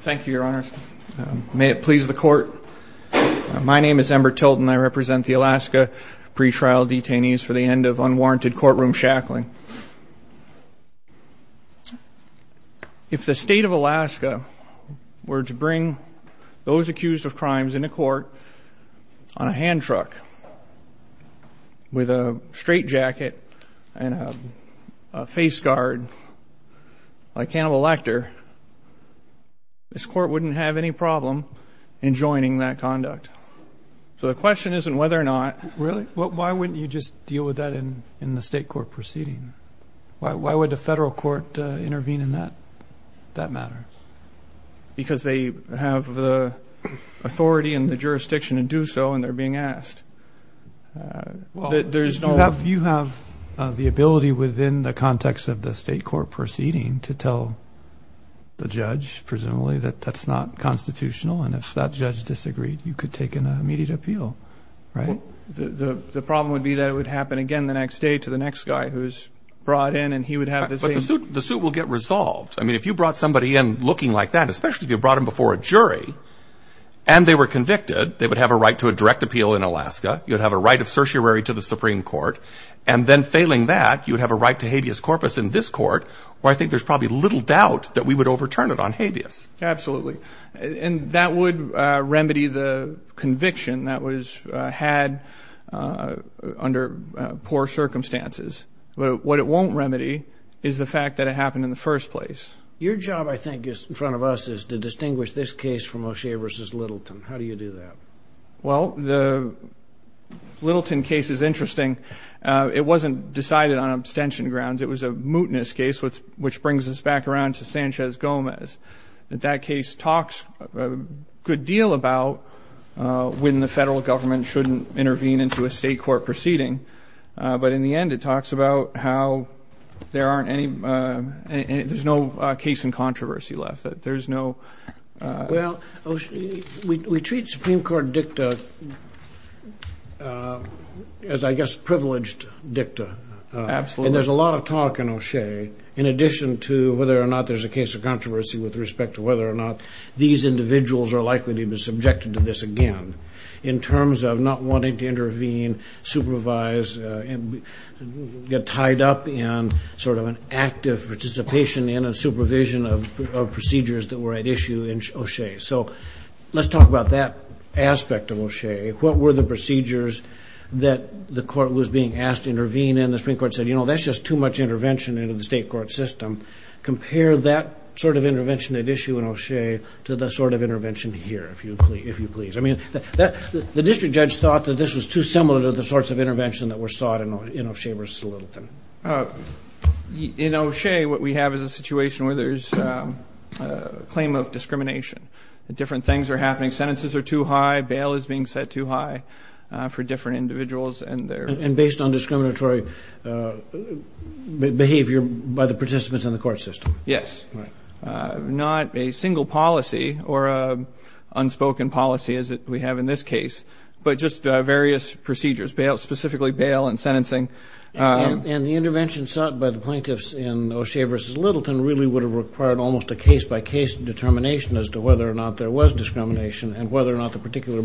Thank you, your honor. May it please the court. My name is Ember Tilton. I represent the Alaska pretrial detainees for the end of unwarranted courtroom shackling. If the state of Alaska were to bring those accused of crimes in a court on a hand truck with a straight jacket and a face guard like an elector, this court wouldn't have any problem in joining that conduct. So the question isn't whether or not... Really? Why wouldn't you just deal with that in the state court proceeding? Why would the federal court intervene in that matter? Because they have the authority and the jurisdiction to do so and they're being asked. Well, you have the ability within the context of the state court proceeding to tell the judge, presumably, that that's not constitutional. And if that judge disagreed, you could take an immediate appeal, right? The problem would be that it would happen again the next day to the next guy who's brought in and he would have the same... But the suit will get resolved. I mean, if you brought somebody in looking like that, especially if you brought him before a jury, and they were convicted, they would have a right to a direct appeal in Alaska. You'd have a right of certiorari to the Supreme Court. And then failing that, you'd have a right to habeas corpus in this court, where I think there's probably little doubt that we would overturn it on habeas. Absolutely. And that would remedy the conviction that was had under poor circumstances. But what it won't remedy is the fact that it happened in the first place. Your job, I think, in front of us is to distinguish this case from O'Shea versus Littleton. How do you do that? Well, the Littleton case is interesting. It wasn't decided on abstention grounds. It was a mootness case, which brings us back around to Sanchez Gomez. That case talks a good deal about when the federal government shouldn't intervene into a state court proceeding. But in the end, it talks about how there aren't any... There's no case in controversy left. There's no... Well, O'Shea, we treat Supreme Court dicta as, I guess, privileged dicta. Absolutely. And there's a lot of talk in O'Shea, in addition to whether or not there's a case of controversy with respect to whether or not these individuals are likely to be subjected to this again, in terms of not wanting to intervene, supervise, and get tied up in sort of an active participation in a supervision of procedures that were at issue in O'Shea. So let's talk about that aspect of O'Shea. What were the people who was being asked to intervene, and the Supreme Court said, you know, that's just too much intervention into the state court system. Compare that sort of intervention at issue in O'Shea to the sort of intervention here, if you please. I mean, the district judge thought that this was too similar to the sorts of intervention that were sought in O'Shea versus Littleton. In O'Shea, what we have is a situation where there's a claim of discrimination. Different things are happening. Sentences are too high. Bail is being set too high for different individuals. And based on discriminatory behavior by the participants in the court system. Yes. Not a single policy or unspoken policy as we have in this case, but just various procedures, specifically bail and sentencing. And the intervention sought by the plaintiffs in O'Shea versus Littleton really would have required almost a case-by-case determination as to whether or not there was discrimination and whether or not the particular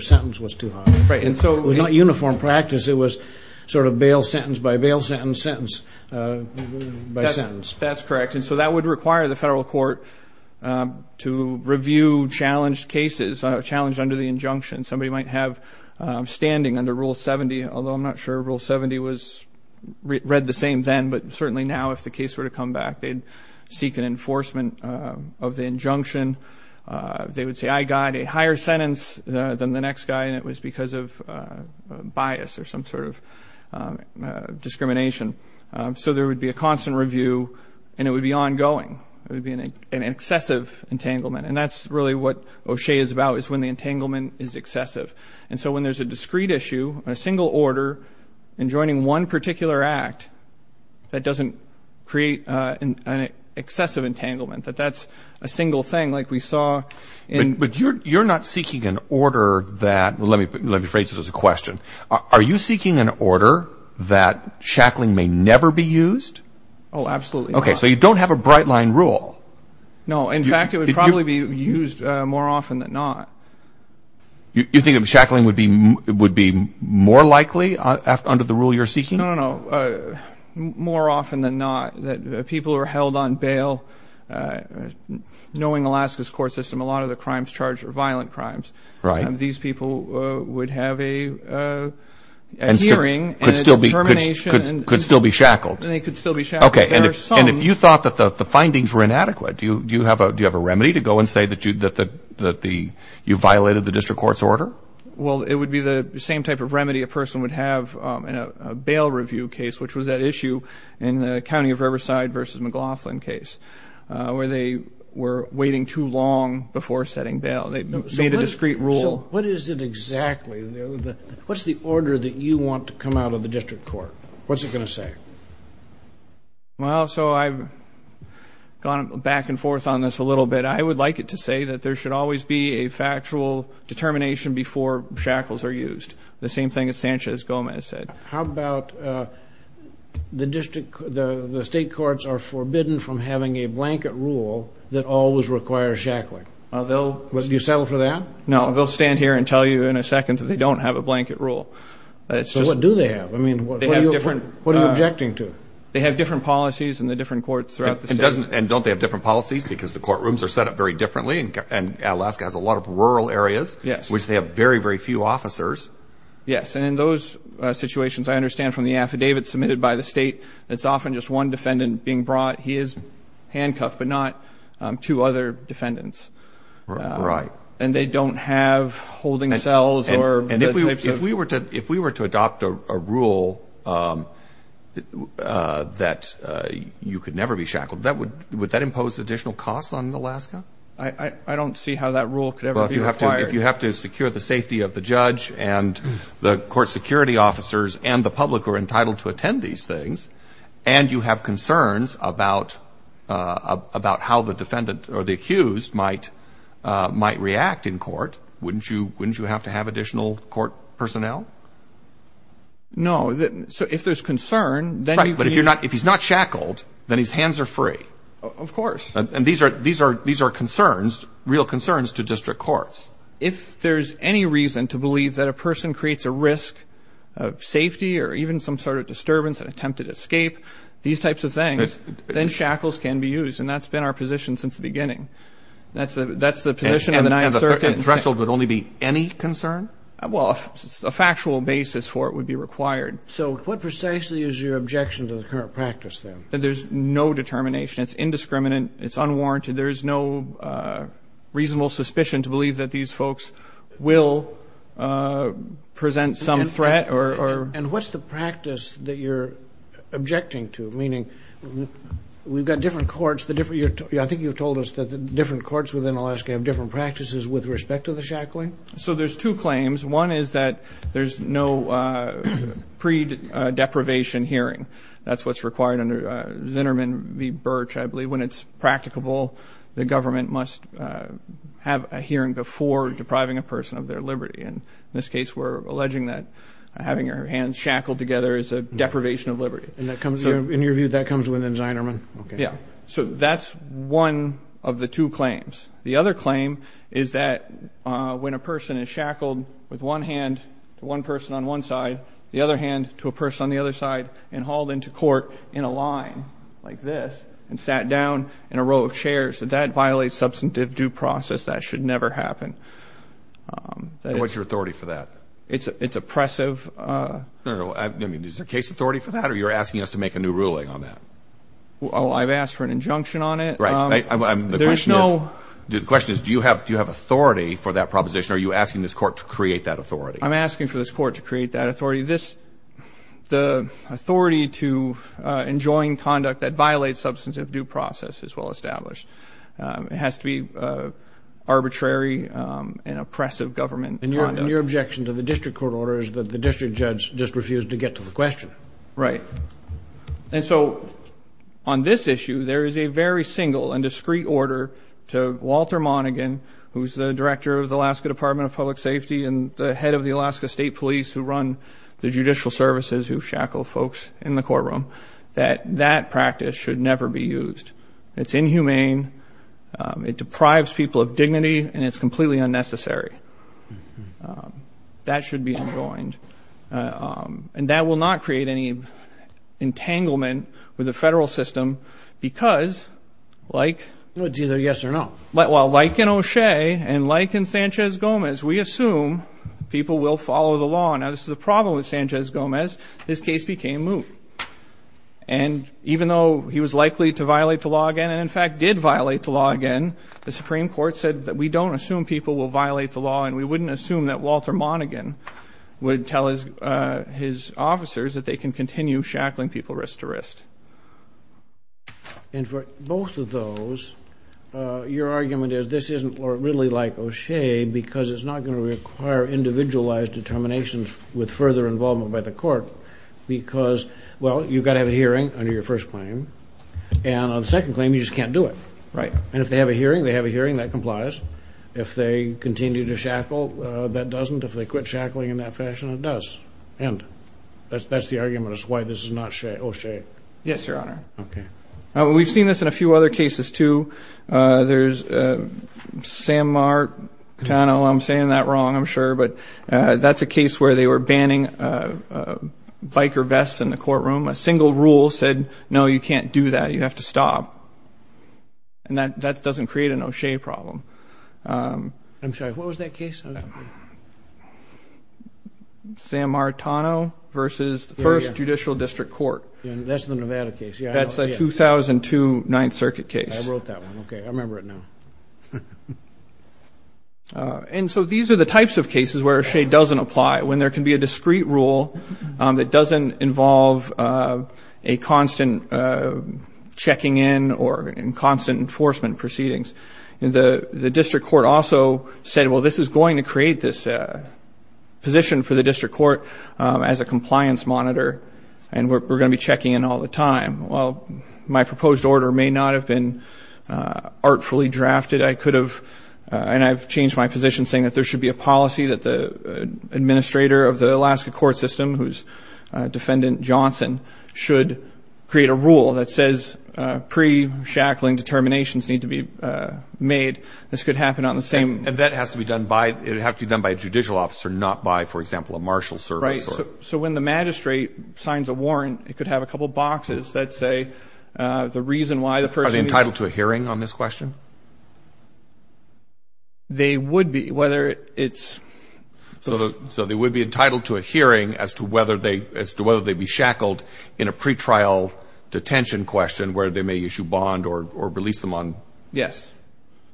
sentence was too high. Right. And so it was not uniform practice. It was sort of bail sentence by bail sentence, sentence by sentence. That's correct. And so that would require the federal court to review challenged cases, challenged under the injunction. Somebody might have standing under Rule 70, although I'm not sure Rule 70 was read the same then, but certainly now if the case were to come back, they'd seek an enforcement of the injunction. They would say, I got a higher sentence than the next guy. And it was because of bias or some sort of discrimination. So there would be a constant review and it would be ongoing. It would be an excessive entanglement. And that's really what O'Shea is about, is when the entanglement is excessive. And so when there's a discrete issue, a single order, and joining one particular act, that doesn't create an excessive entanglement that that's a single thing like we saw in... But you're not seeking an order that, let me phrase it as a question, are you seeking an order that shackling may never be used? Oh, absolutely not. Okay, so you don't have a bright line rule. No, in fact, it would probably be used more often than not. You think of shackling would be more likely under the rule you're seeking? No, no, no. More often than not, that people are held on knowing Alaska's court system, a lot of the crimes charged are violent crimes. Right. And these people would have a hearing... Could still be shackled. And they could still be shackled. Okay. And if you thought that the findings were inadequate, do you have a remedy to go and say that you violated the district court's order? Well, it would be the same type of remedy a person would have in a bail review case, which was that issue in the County of Alaska, where they were waiting too long before setting bail. They made a discreet rule. So what is it exactly? What's the order that you want to come out of the district court? What's it going to say? Well, so I've gone back and forth on this a little bit. I would like it to say that there should always be a factual determination before shackles are used. The same thing as Sanchez Gomez said. How about the district, the state courts are forbidden from having a blanket rule that always requires shackling. Do you settle for that? No, they'll stand here and tell you in a second that they don't have a blanket rule. So what do they have? I mean, what are you objecting to? They have different policies in the different courts throughout the state. And don't they have different policies? Because the courtrooms are set up very differently. And Alaska has a lot of rural areas, which they have very, very few officers. Yes. And in those situations, I understand from the affidavit submitted by the state, it's often just one defendant being brought. He is handcuffed, but not two other defendants. Right. And they don't have holding cells or... And if we were to adopt a rule that you could never be shackled, would that impose additional costs on Alaska? I don't see how that rule could ever be required. If you have to secure the safety of the judge and the court security officers and the public are entitled to attend these things, and you have concerns about how the defendant or the accused might react in court, wouldn't you have to have additional court personnel? No. So if there's concern, then you can use... Right. But if he's not shackled, then his hands are free. Of course. And these are concerns, real concerns to district courts. If there's any reason to believe that a person creates a risk of attempted escape, these types of things, then shackles can be used. And that's been our position since the beginning. That's the position of the 9th Circuit. And the threshold would only be any concern? Well, a factual basis for it would be required. So what precisely is your objection to the current practice, then? There's no determination. It's indiscriminate. It's unwarranted. There is no reasonable suspicion to believe that these folks will present some threat or... And what's the practice that you're objecting to? Meaning, we've got different courts, the different... I think you've told us that the different courts within Alaska have different practices with respect to the shackling? So there's two claims. One is that there's no pre-deprivation hearing. That's what's required under Zinnerman v. Birch, I believe. When it's practicable, the government must have a hearing before depriving a person of their liberty. And in this case, we're alleging that having your hands shackled together is a deprivation of liberty. And in your view, that comes within Zinnerman? Yeah. So that's one of the two claims. The other claim is that when a person is shackled with one hand to one person on one side, the other hand to a person on the other side, and hauled into court in a line like this, and sat down in a row of chairs, that that violates substantive due process. That should never happen. What's your authority for that? It's oppressive. Is there case authority for that? Or you're asking us to make a new ruling on that? Oh, I've asked for an injunction on it. The question is, do you have authority for that proposition? Are you asking this court to create that authority? I'm asking for this court to create that authority. The authority to enjoin conduct that violates substantive due process is well established. It has to be arbitrary and oppressive government conduct. And your objection to the district court order is that the district judge just refused to get to the question. Right. And so on this issue, there is a very single and discreet order to Walter Monaghan, who's the director of the Alaska Department of Public Safety and the head of the Alaska State Police, who run the judicial services, who shackle folks in the courtroom, that that practice should never be used. It's inhumane. It deprives people of dignity. And it's completely unnecessary. That should be enjoined. And that will not create any entanglement with the federal system because, like in O'Shea and like in Sanchez-Gomez, we assume people will follow the law. Now, this is the problem with Sanchez-Gomez. His case became moot. And even though he was likely to violate the law again and, in fact, did violate the law again, the Supreme Court said that we don't assume people will violate the law and we wouldn't assume that Walter Monaghan would tell his officers that they can continue shackling people wrist to wrist. And for both of those, your argument is this isn't really like O'Shea because it's not going to require individualized determinations with further involvement by the court because, well, you've got to have a hearing under your first claim. And on the second claim, you just can't do it. And if they have a hearing, they have a hearing. That complies. If they continue to shackle, that doesn't. If they quit shackling in that fashion, it does end. That's the argument as to why this is not O'Shea. Yes, Your Honor. OK. We've seen this in a few other cases, too. There's Sam Martano. I'm saying that wrong, I'm sure. But that's a case where they were banning biker vests in the courtroom. A single rule said, no, you can't do that. You have to stop. And that doesn't create an O'Shea problem. I'm sorry, what was that case? Sam Martano versus the First Judicial District Court. That's the Nevada case. That's a 2002 Ninth Circuit case. I wrote that one. OK, I remember it now. And so these are the types of cases where O'Shea doesn't apply, when there can be a discrete rule that doesn't involve a constant checking in or in constant enforcement proceedings. And the district court also said, well, this is going to create this position for the district court as a compliance monitor. And we're going to be checking in all the time. And I've changed my position, saying that there should be a policy that the administrator of the Alaska court system, who's defendant Johnson, should create a rule that says pre-shackling determinations need to be made. This could happen on the same. And that has to be done by a judicial officer, not by, for example, a marshal service. So when the magistrate signs a warrant, it could have a couple of boxes that say the reason why the person is entitled to a hearing on this question. They would be, whether it's. So they would be entitled to a hearing as to whether they be shackled in a pretrial detention question, where they may issue bond or release them on. Yes,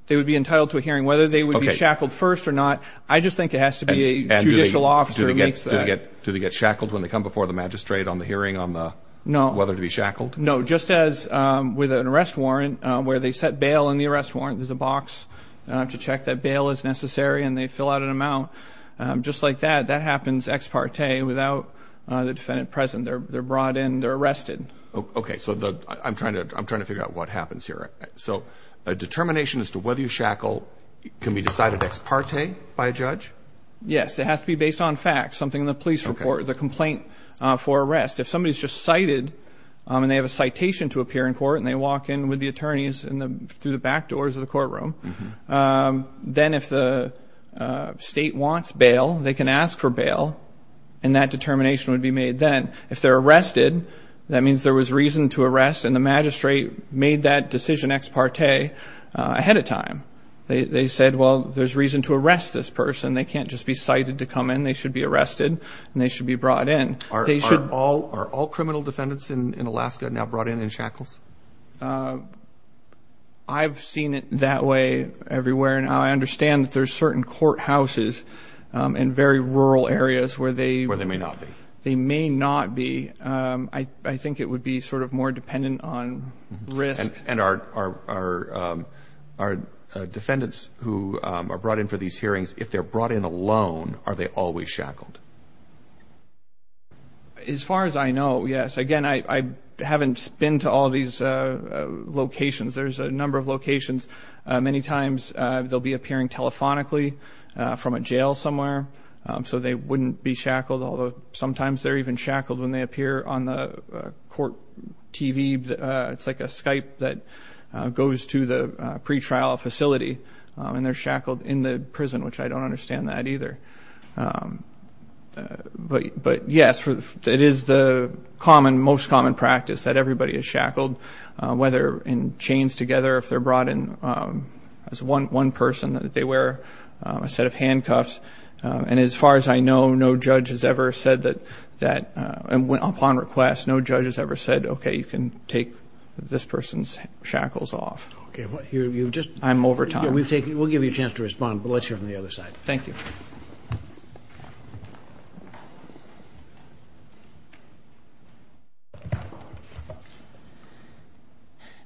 they would be entitled to a hearing. Whether they would be shackled first or not, I just think it has to be a judicial officer who makes that. Do they get shackled when they come before the magistrate on the hearing on whether to be shackled? No, just as with an arrest warrant, where they set bail in the arrest warrant, there's a box to check that bail is necessary and they fill out an amount. Just like that, that happens ex parte without the defendant present. They're brought in, they're arrested. Okay, so I'm trying to figure out what happens here. So a determination as to whether you shackle can be decided ex parte by a judge? Yes, it has to be based on facts, something in the police report, the complaint for arrest. If somebody's just cited and they have a citation to appear in court and they walk in with the attorneys through the back doors of the courtroom, then if the state wants bail, they can ask for bail and that determination would be made then. If they're arrested, that means there was reason to arrest and the magistrate made that decision ex parte ahead of time. They said, well, there's reason to arrest this person. They can't just be cited to come in. They should be arrested and they should be brought in. Are all criminal defendants in Alaska now brought in in shackles? I've seen it that way everywhere now. I understand that there's certain courthouses in very rural areas where they... Where they may not be. They may not be. I think it would be sort of more dependent on risk. And are defendants who are brought in for these hearings, if they're brought in alone, are they always shackled? As far as I know, yes. Again, I haven't been to all these locations. There's a number of locations. Many times, they'll be appearing telephonically from a jail somewhere. So they wouldn't be shackled, although sometimes they're even shackled when they appear on the court TV. It's like a Skype that goes to the pretrial facility and they're shackled in the prison, which I don't understand that either. But yes, it is the most common practice that everybody is shackled, whether in chains together, if they're brought in as one person, that they wear a set of handcuffs. And as far as I know, no judge has ever said that... Upon request, no judge has ever said, OK, you can take this person's shackles off. I'm over time. We'll give you a chance to respond, but let's hear from the other side. Thank you.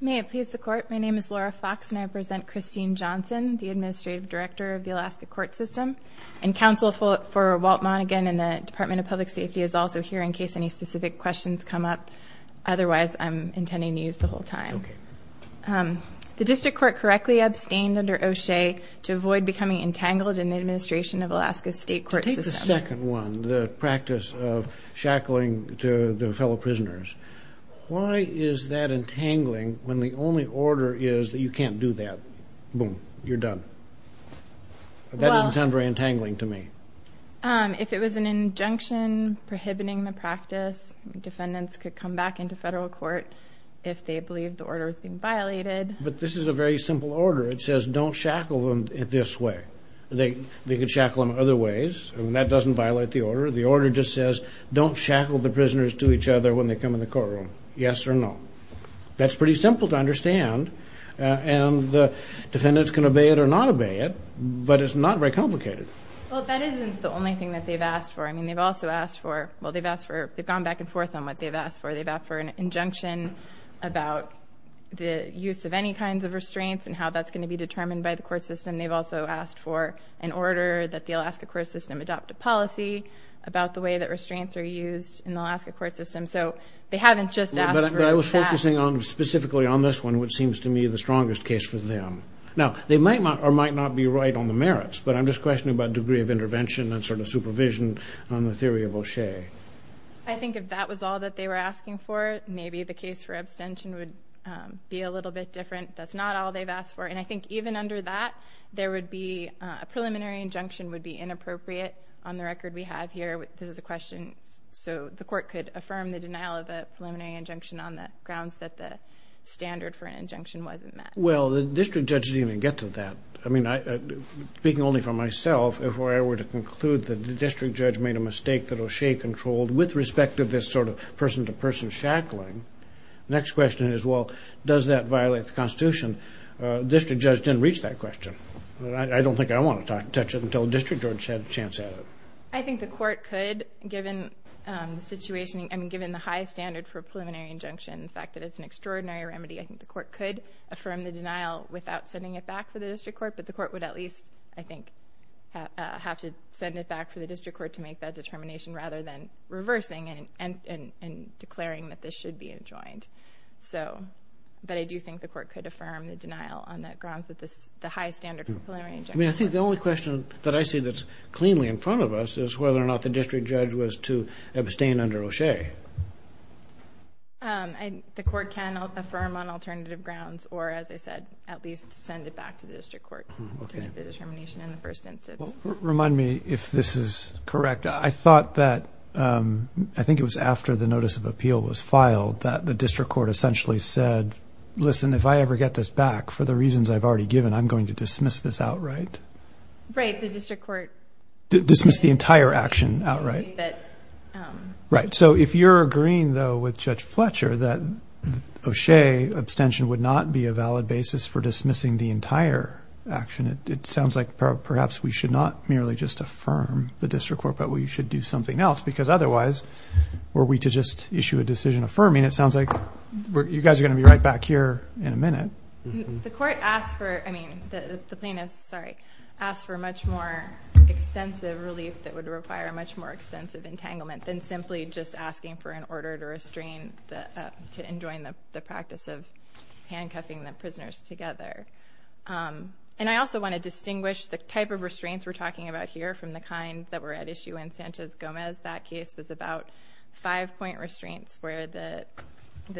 May it please the Court, my name is Laura Fox and I represent Christine Johnson, the Administrative Director of the Alaska Court System. And counsel for Walt Monaghan in the Department of Public Safety is also here in case any specific questions come up. Otherwise, I'm intending to use the whole time. The District Court correctly abstained under O'Shea to avoid becoming entangled in the administration of Alaska's state court system. Take the second one, the practice of shackling the fellow prisoners. Why is that entangling when the only order is that you can't do that? Boom, you're done. That doesn't sound very entangling to me. If it was an injunction prohibiting the practice, defendants could come back into federal court if they believed the order was being violated. But this is a very simple order. It says don't shackle them this way. They could shackle them other ways, and that doesn't violate the order. The order just says don't shackle the prisoners to each other when they come in the courtroom, yes or no. That's pretty simple to understand, and the defendants can obey it or not obey it, but it's not very complicated. Well, that isn't the only thing that they've asked for. I mean, they've also asked for, well, they've asked for, they've gone back and forth on what they've asked for. They've asked for an injunction about the use of any kinds of restraints and how that's going to be determined by the court system. They've also asked for an order that the Alaska court system adopt a policy about the way that restraints are used in the Alaska court system. So they haven't just asked for that. But I was focusing specifically on this one, which seems to me the strongest case for them. Now, they might or might not be right on the merits, but I'm just questioning about degree of intervention and sort of supervision on the theory of O'Shea. I think if that was all that they were asking for, maybe the case for abstention would be a little bit different. That's not all they've asked for. And I think even under that, there would be, a preliminary injunction would be inappropriate on the record we have here. This is a question so the court could affirm the denial of a preliminary injunction on the grounds that the standard for an injunction wasn't met. Well, the district judge didn't even get to that. I mean, speaking only for myself, if I were to conclude that the district judge made a mistake that O'Shea controlled with respect to this sort of person-to-person shackling, the next question is, well, does that violate the Constitution? The district judge didn't reach that question. I don't think I want to touch it until the district judge had a chance at it. I think the court could, given the situation, I mean, given the high standard for a preliminary injunction, the fact that it's an extraordinary remedy, I think the court could affirm the denial without sending it back to the district court. But the court would at least, I think, have to send it back to the district court to make that determination rather than reversing and declaring that this should be enjoined. But I do think the court could affirm the denial on the grounds that the high standard for a preliminary injunction wasn't met. I think the only question that I see that's cleanly in front of us is whether or not the district judge was to abstain under O'Shea. The court can affirm on alternative grounds or, as I said, at least send it back to the district court to make the determination in the first instance. Remind me if this is correct. I thought that, I think it was after the notice of appeal was filed, that the district court essentially said, listen, if I ever get this back for the reasons I've already given, I'm going to dismiss this outright. Right, the district court. Dismiss the entire action outright. Right, so if you're agreeing, though, with Judge Fletcher that O'Shea abstention would not be a valid basis for dismissing the entire action, it sounds like perhaps we should not merely just affirm the district court, but we should do something else because otherwise, were we to just issue a decision affirming, it sounds like you guys are going to be right back here in a minute. The court asked for, I mean, the plaintiffs, sorry, asked for much more extensive relief that would require much more extensive entanglement than simply just asking for an order to restrain, to enjoin the practice of handcuffing the prisoners together. And I also want to distinguish the type of restraints we're talking about here from the kind that were at issue in Sanchez-Gomez. That case was about five-point restraints where the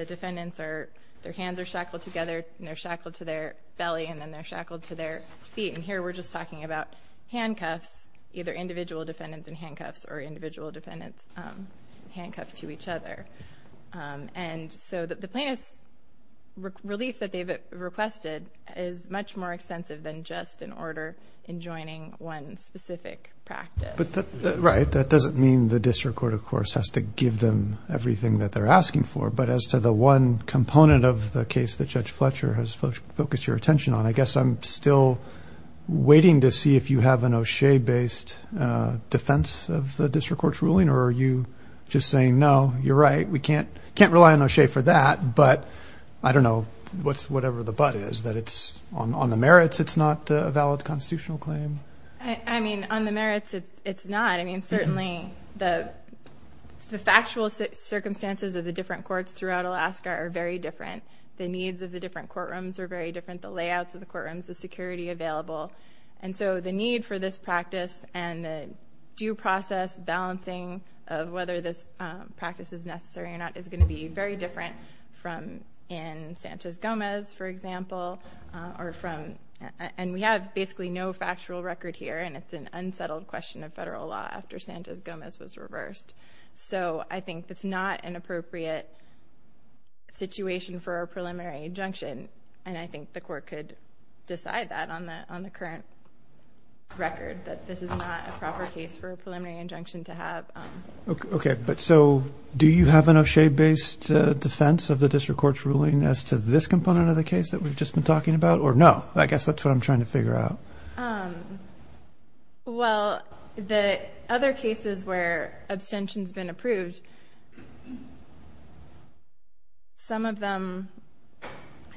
defendants are, their hands are shackled together and they're shackled to their belly and then they're shackled to their feet. And here we're just talking about handcuffs, either individual defendants in handcuffs or individual defendants handcuffed to each other. And so the plaintiff's relief that they've requested is much more extensive than just an order enjoining one specific practice. Right. That doesn't mean the district court, of course, has to give them everything that they're asking for. But as to the one component of the case that Judge Fletcher has focused your attention on, I guess I'm still waiting to see if you have an O'Shea-based defense of the district court's ruling or are you just saying, no, you're right, we can't rely on O'Shea for that, but I don't know, whatever the but is, that it's on the merits it's not a valid constitutional claim? I mean, on the merits it's not. I mean, certainly the factual circumstances of the different courts throughout Alaska are very different. The needs of the different courtrooms are very different. The layouts of the courtrooms, the security available. And so the need for this practice and the due process balancing of whether this practice is necessary or not is going to be very different from in Sanchez-Gomez, for example. And we have basically no factual record here, and it's an unsettled question of federal law after Sanchez-Gomez was reversed. So I think it's not an appropriate situation for a preliminary injunction, and I think the court could decide that on the current record, that this is not a proper case for a preliminary injunction to have. Okay, but so do you have an O'Shea-based defense of the district court's ruling as to this component of the case that we've just been talking about, or no? I guess that's what I'm trying to figure out. Well, the other cases where abstention's been approved, some of them,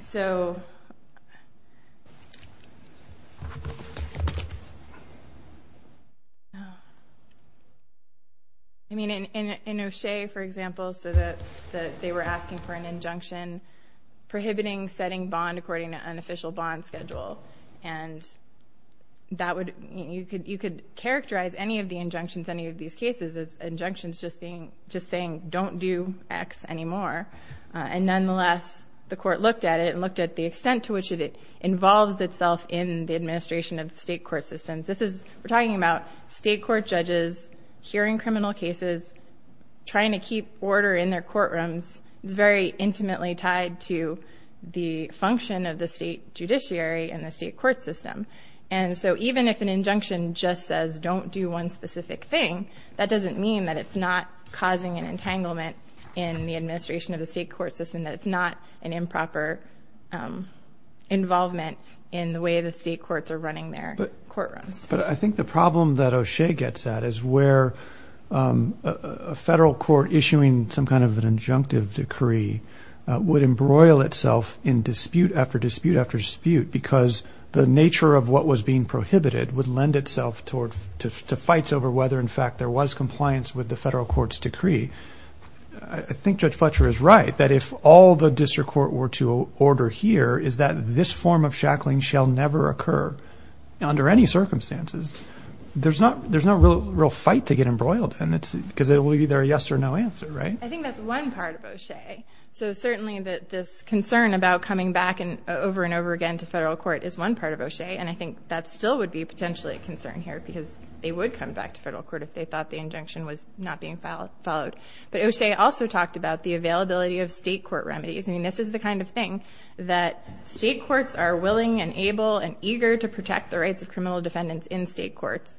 so in O'Shea, for example, they were asking for an injunction prohibiting setting bond according to unofficial bond schedule. And you could characterize any of the injunctions in any of these cases as injunctions just saying, don't do X anymore. And nonetheless, the court looked at it and looked at the extent to which it involves itself in the administration of state court systems. We're talking about state court judges hearing criminal cases, trying to keep order in their courtrooms. It's very intimately tied to the function of the state judiciary and the state court system. And so even if an injunction just says, don't do one specific thing, that doesn't mean that it's not causing an entanglement in the administration of the state court system, that it's not an improper involvement in the way the state courts are running their courtrooms. But I think the problem that O'Shea gets at is where a federal court issuing some kind of an injunctive decree would embroil itself in dispute after dispute after dispute because the nature of what was being prohibited would lend itself to fights over whether, in fact, there was compliance with the federal court's decree. I think Judge Fletcher is right, that if all the district court were to order here is that this form of shackling shall never occur under any circumstances, there's no real fight to get embroiled because it will be either a yes or no answer, right? I think that's one part of O'Shea. So certainly this concern about coming back over and over again to federal court is one part of O'Shea, and I think that still would be potentially a concern here because they would come back to federal court if they thought the injunction was not being followed. But O'Shea also talked about the availability of state court remedies. I mean, this is the kind of thing that state courts are willing and able and eager to protect the rights of criminal defendants in state courts.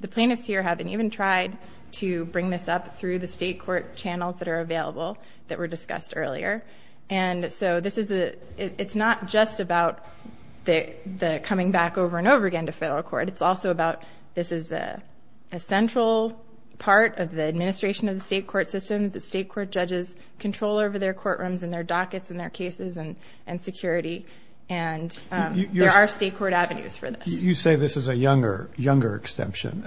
The plaintiffs here haven't even tried to bring this up through the state court channels that are available that were discussed earlier. And so this is a... It's not just about the coming back over and over again to federal court. It's also about this is a central part of the administration of the state court system that state court judges control over their courtrooms and their dockets and their cases and security, and there are state court avenues for this. You say this is a younger abstention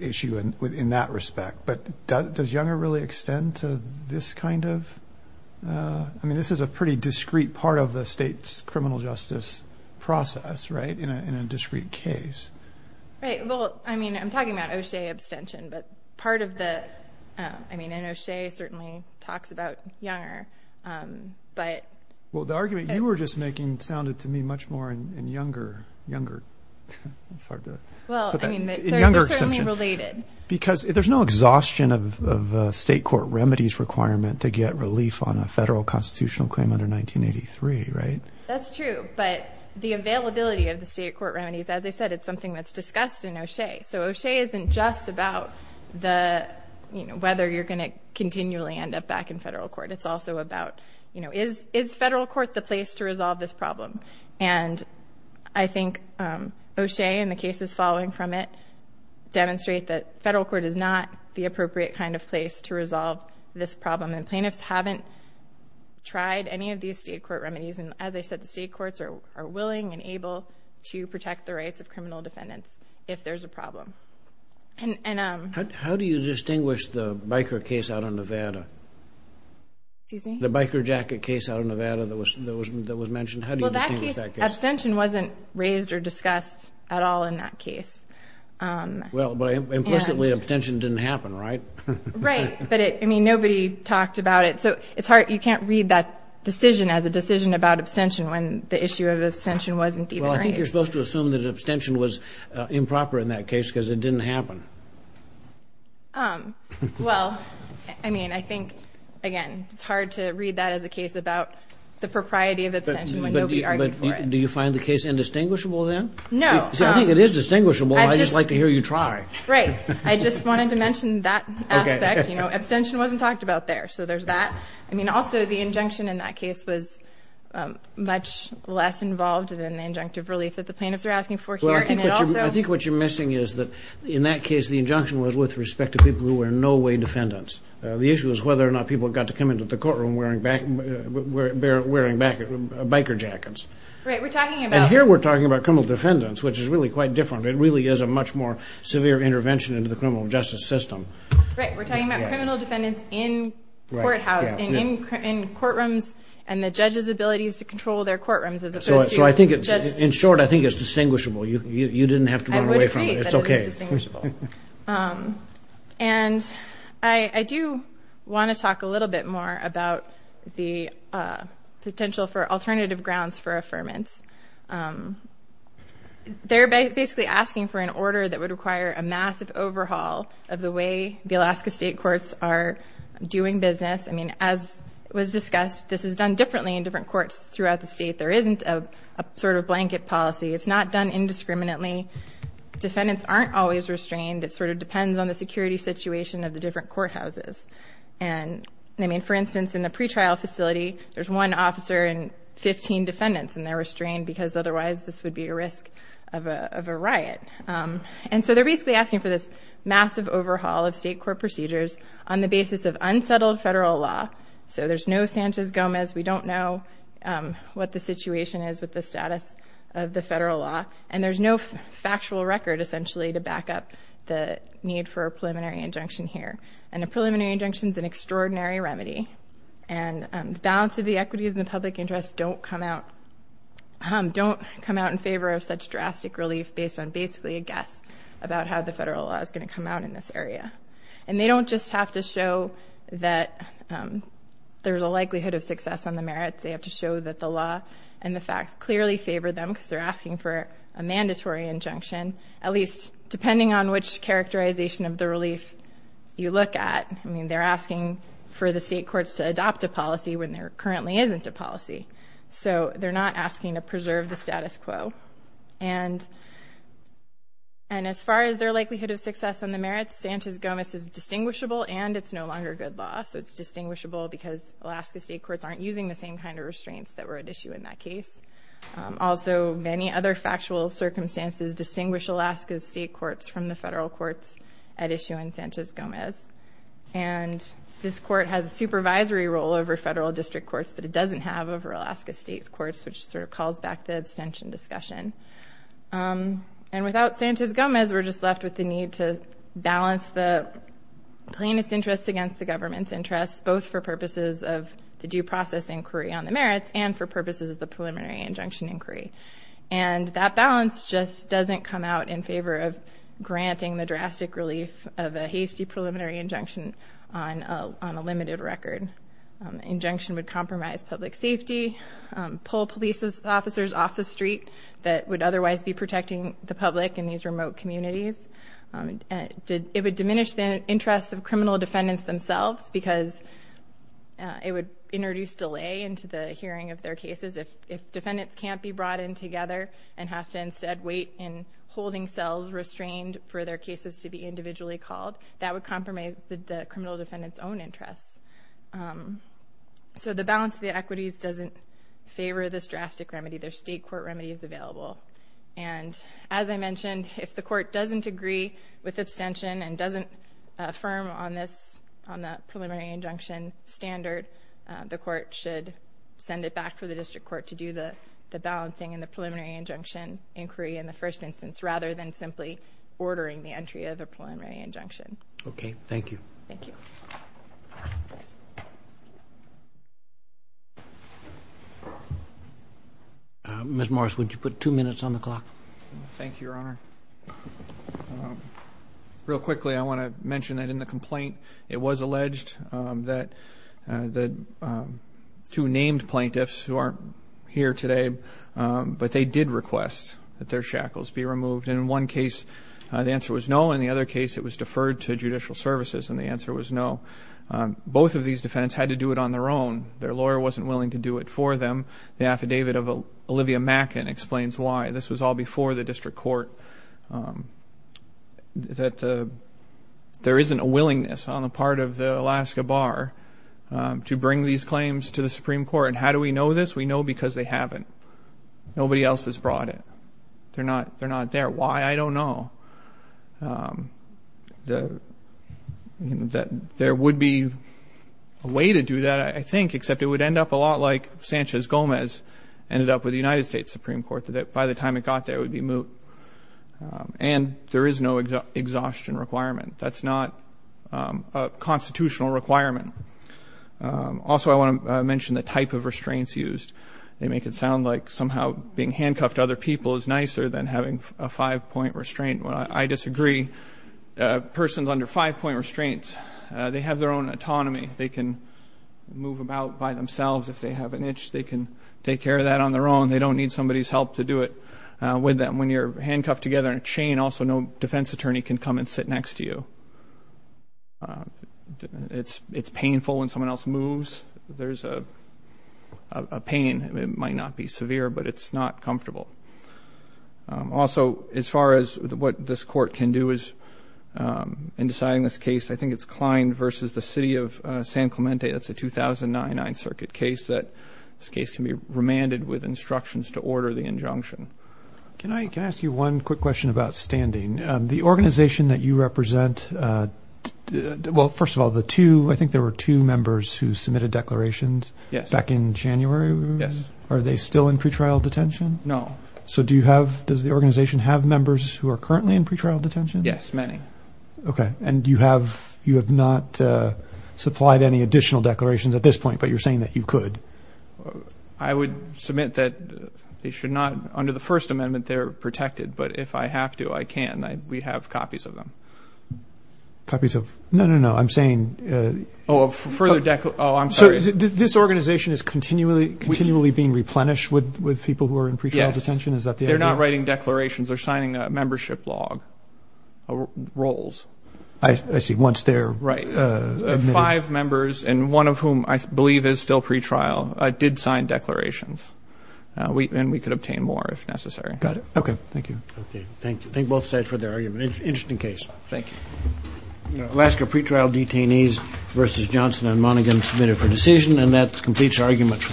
issue in that respect, but does younger really extend to this kind of... I mean, this is a pretty discrete part of the state's criminal justice process, right, in a discrete case. Right. Well, I mean, I'm talking about O'Shea abstention, but part of the... I mean, and O'Shea certainly talks about younger, but... Well, the argument you were just making sounded to me much more in younger, younger. It's hard to put that... Well, I mean, they're certainly related. Because there's no exhaustion of state court remedies requirement to get relief on a federal constitutional claim under 1983, right? That's true, but the availability of the state court remedies, as I said, it's something that's discussed in O'Shea. So O'Shea isn't just about whether you're going to continually end up back in federal court. It's also about is federal court the place to resolve this problem? And I think O'Shea and the cases following from it demonstrate that federal court is not the appropriate kind of place to resolve this problem. And plaintiffs haven't tried any of these state court remedies. And as I said, the state courts are willing and able to protect the rights of criminal defendants if there's a problem. And... How do you distinguish the biker case out of Nevada? Excuse me? The biker jacket case out of Nevada that was mentioned. How do you distinguish that case? Well, that case, abstention wasn't raised or discussed at all in that case. Well, but implicitly abstention didn't happen, right? Right. But, I mean, nobody talked about it. So it's hard. You can't read that decision as a decision about abstention when the issue of abstention wasn't even raised. Well, I think you're supposed to assume that abstention was improper in that case because it didn't happen. Well, I mean, I think, again, it's hard to read that as a case about the propriety of abstention when nobody argued for it. But do you find the case indistinguishable then? No. See, I think it is distinguishable. I'd just like to hear you try. Right. I just wanted to mention that aspect. You know, abstention wasn't talked about there. So there's that. I mean, also, the injunction in that case was much less involved than the injunctive relief that the plaintiffs are asking for here. Well, I think what you're missing is that, in that case, the injunction was with respect to people who were no-way defendants. The issue is whether or not people got to come into the courtroom wearing biker jackets. Right. We're talking about... It really is a much more severe intervention into the criminal justice system. Right. We're talking about criminal defendants in courthouses, in courtrooms, and the judges' abilities to control their courtrooms as opposed to... So in short, I think it's distinguishable. You didn't have to run away from it. It's okay. I would agree that it was distinguishable. And I do want to talk a little bit more about the potential for alternative grounds for affirmance. They're basically asking for an order that would require a massive overhaul of the way the Alaska state courts are doing business. I mean, as was discussed, this is done differently in different courts throughout the state. There isn't a sort of blanket policy. It's not done indiscriminately. Defendants aren't always restrained. It sort of depends on the security situation of the different courthouses. And, I mean, for instance, in the pretrial facility, there's one officer and 15 defendants, and they're restrained because otherwise this would be a risk of a riot. And so they're basically asking for this massive overhaul of state court procedures on the basis of unsettled federal law. So there's no Sanchez-Gomez. We don't know what the situation is with the status of the federal law. And there's no factual record, essentially, to back up the need for a preliminary injunction here. And a preliminary injunction is an extraordinary remedy. And the balance of the equities and the public interest don't come out in favor of such drastic relief based on basically a guess about how the federal law is going to come out in this area. And they don't just have to show that there's a likelihood of success on the merits. They have to show that the law and the facts clearly favor them because they're asking for a mandatory injunction, at least depending on which characterization of the relief you look at. I mean, they're asking for the state courts to adopt a policy when there currently isn't a policy. So they're not asking to preserve the status quo. And as far as their likelihood of success on the merits, Sanchez-Gomez is distinguishable and it's no longer good law. So it's distinguishable because Alaska state courts aren't using the same kind of restraints that were at issue in that case. Also, many other factual circumstances distinguish Alaska state courts from the federal courts at issue in Sanchez-Gomez. And this court has a supervisory role over federal district courts that it doesn't have over Alaska state's courts, which sort of calls back the abstention discussion. And without Sanchez-Gomez, we're just left with the need to balance the plaintiff's interest against the government's interest, both for purposes of the due process inquiry on the merits and for purposes of the preliminary injunction inquiry. And that balance just doesn't come out in favor of granting the drastic relief of a hasty preliminary injunction on a limited record. Injunction would compromise public safety, pull police officers off the street that would otherwise be protecting the public in these remote communities. It would diminish the interests of criminal defendants themselves because it would introduce delay into the hearing of their cases if defendants can't be brought in together and have to instead wait in holding cells, restrained for their cases to be individually called. That would compromise the criminal defendant's own interests. So the balance of the equities doesn't favor this drastic remedy. There's state court remedies available. And as I mentioned, if the court doesn't agree with abstention and doesn't affirm on the preliminary injunction standard, the court should send it back for the district court to do the balancing and the preliminary injunction inquiry in the first instance rather than simply ordering the entry of a preliminary injunction. Okay. Thank you. Thank you. Ms. Morris, would you put two minutes on the clock? Thank you, Your Honor. Real quickly, I want to mention that in the complaint, it was alleged that two named plaintiffs who aren't here today, but they did request that their shackles be removed. And in one case, the answer was no. In the other case, it was deferred to judicial services, and the answer was no. Both of these defendants had to do it on their own. Their lawyer wasn't willing to do it for them. The affidavit of Olivia Mackin explains why. This was all before the district court, that there isn't a willingness on the part of the Alaska Bar to bring these claims to the Supreme Court. And how do we know this? We know because they haven't. Nobody else has brought it. They're not there. Why? I don't know. There would be a way to do that, I think, except it would end up a lot like Sanchez Gomez ended up with the United States Supreme Court, that by the time it got there, it would be moot. And there is no exhaustion requirement. That's not a constitutional requirement. Also, I want to mention the type of restraints used. They make it sound like somehow being handcuffed to other people is nicer than having a five-point restraint. Well, I disagree. Persons under five-point restraints, they have their own autonomy. They can move about by themselves if they have an itch. They can take care of that on their own. They don't need somebody's help to do it with them. When you're handcuffed together in a chain, also no defense attorney can come and sit next to you. It's painful when someone else moves. There's a pain. It might not be severe, but it's not comfortable. Also, as far as what this Court can do in deciding this case, I think it's Klein versus the city of San Clemente. That's a 2009 9th Circuit case. This case can be remanded with instructions to order the injunction. Can I ask you one quick question about standing? The organization that you represent, well, first of all, I think there were two members who submitted declarations back in January. Are they still in pretrial detention? No. So does the organization have members who are currently in pretrial detention? Yes, many. Okay. And you have not supplied any additional declarations at this point, but you're saying that you could? I would submit that they should not. Under the First Amendment, they're protected. But if I have to, I can. We have copies of them. Copies of? No, no, no. I'm saying – Oh, a further – oh, I'm sorry. So this organization is continually being replenished with people who are in pretrial detention? Yes. Is that the idea? They're not writing declarations. They're signing a membership log, roles. I see. Once they're admitted. Right. Five members, and one of whom I believe is still pretrial, did sign declarations. And we could obtain more if necessary. Got it. Okay. Thank you. Okay. Thank you. Thank both sides for their argument. Interesting case. Thank you. Alaska pretrial detainees versus Johnson and Monaghan submitted for decision, and that completes our argument for this morning.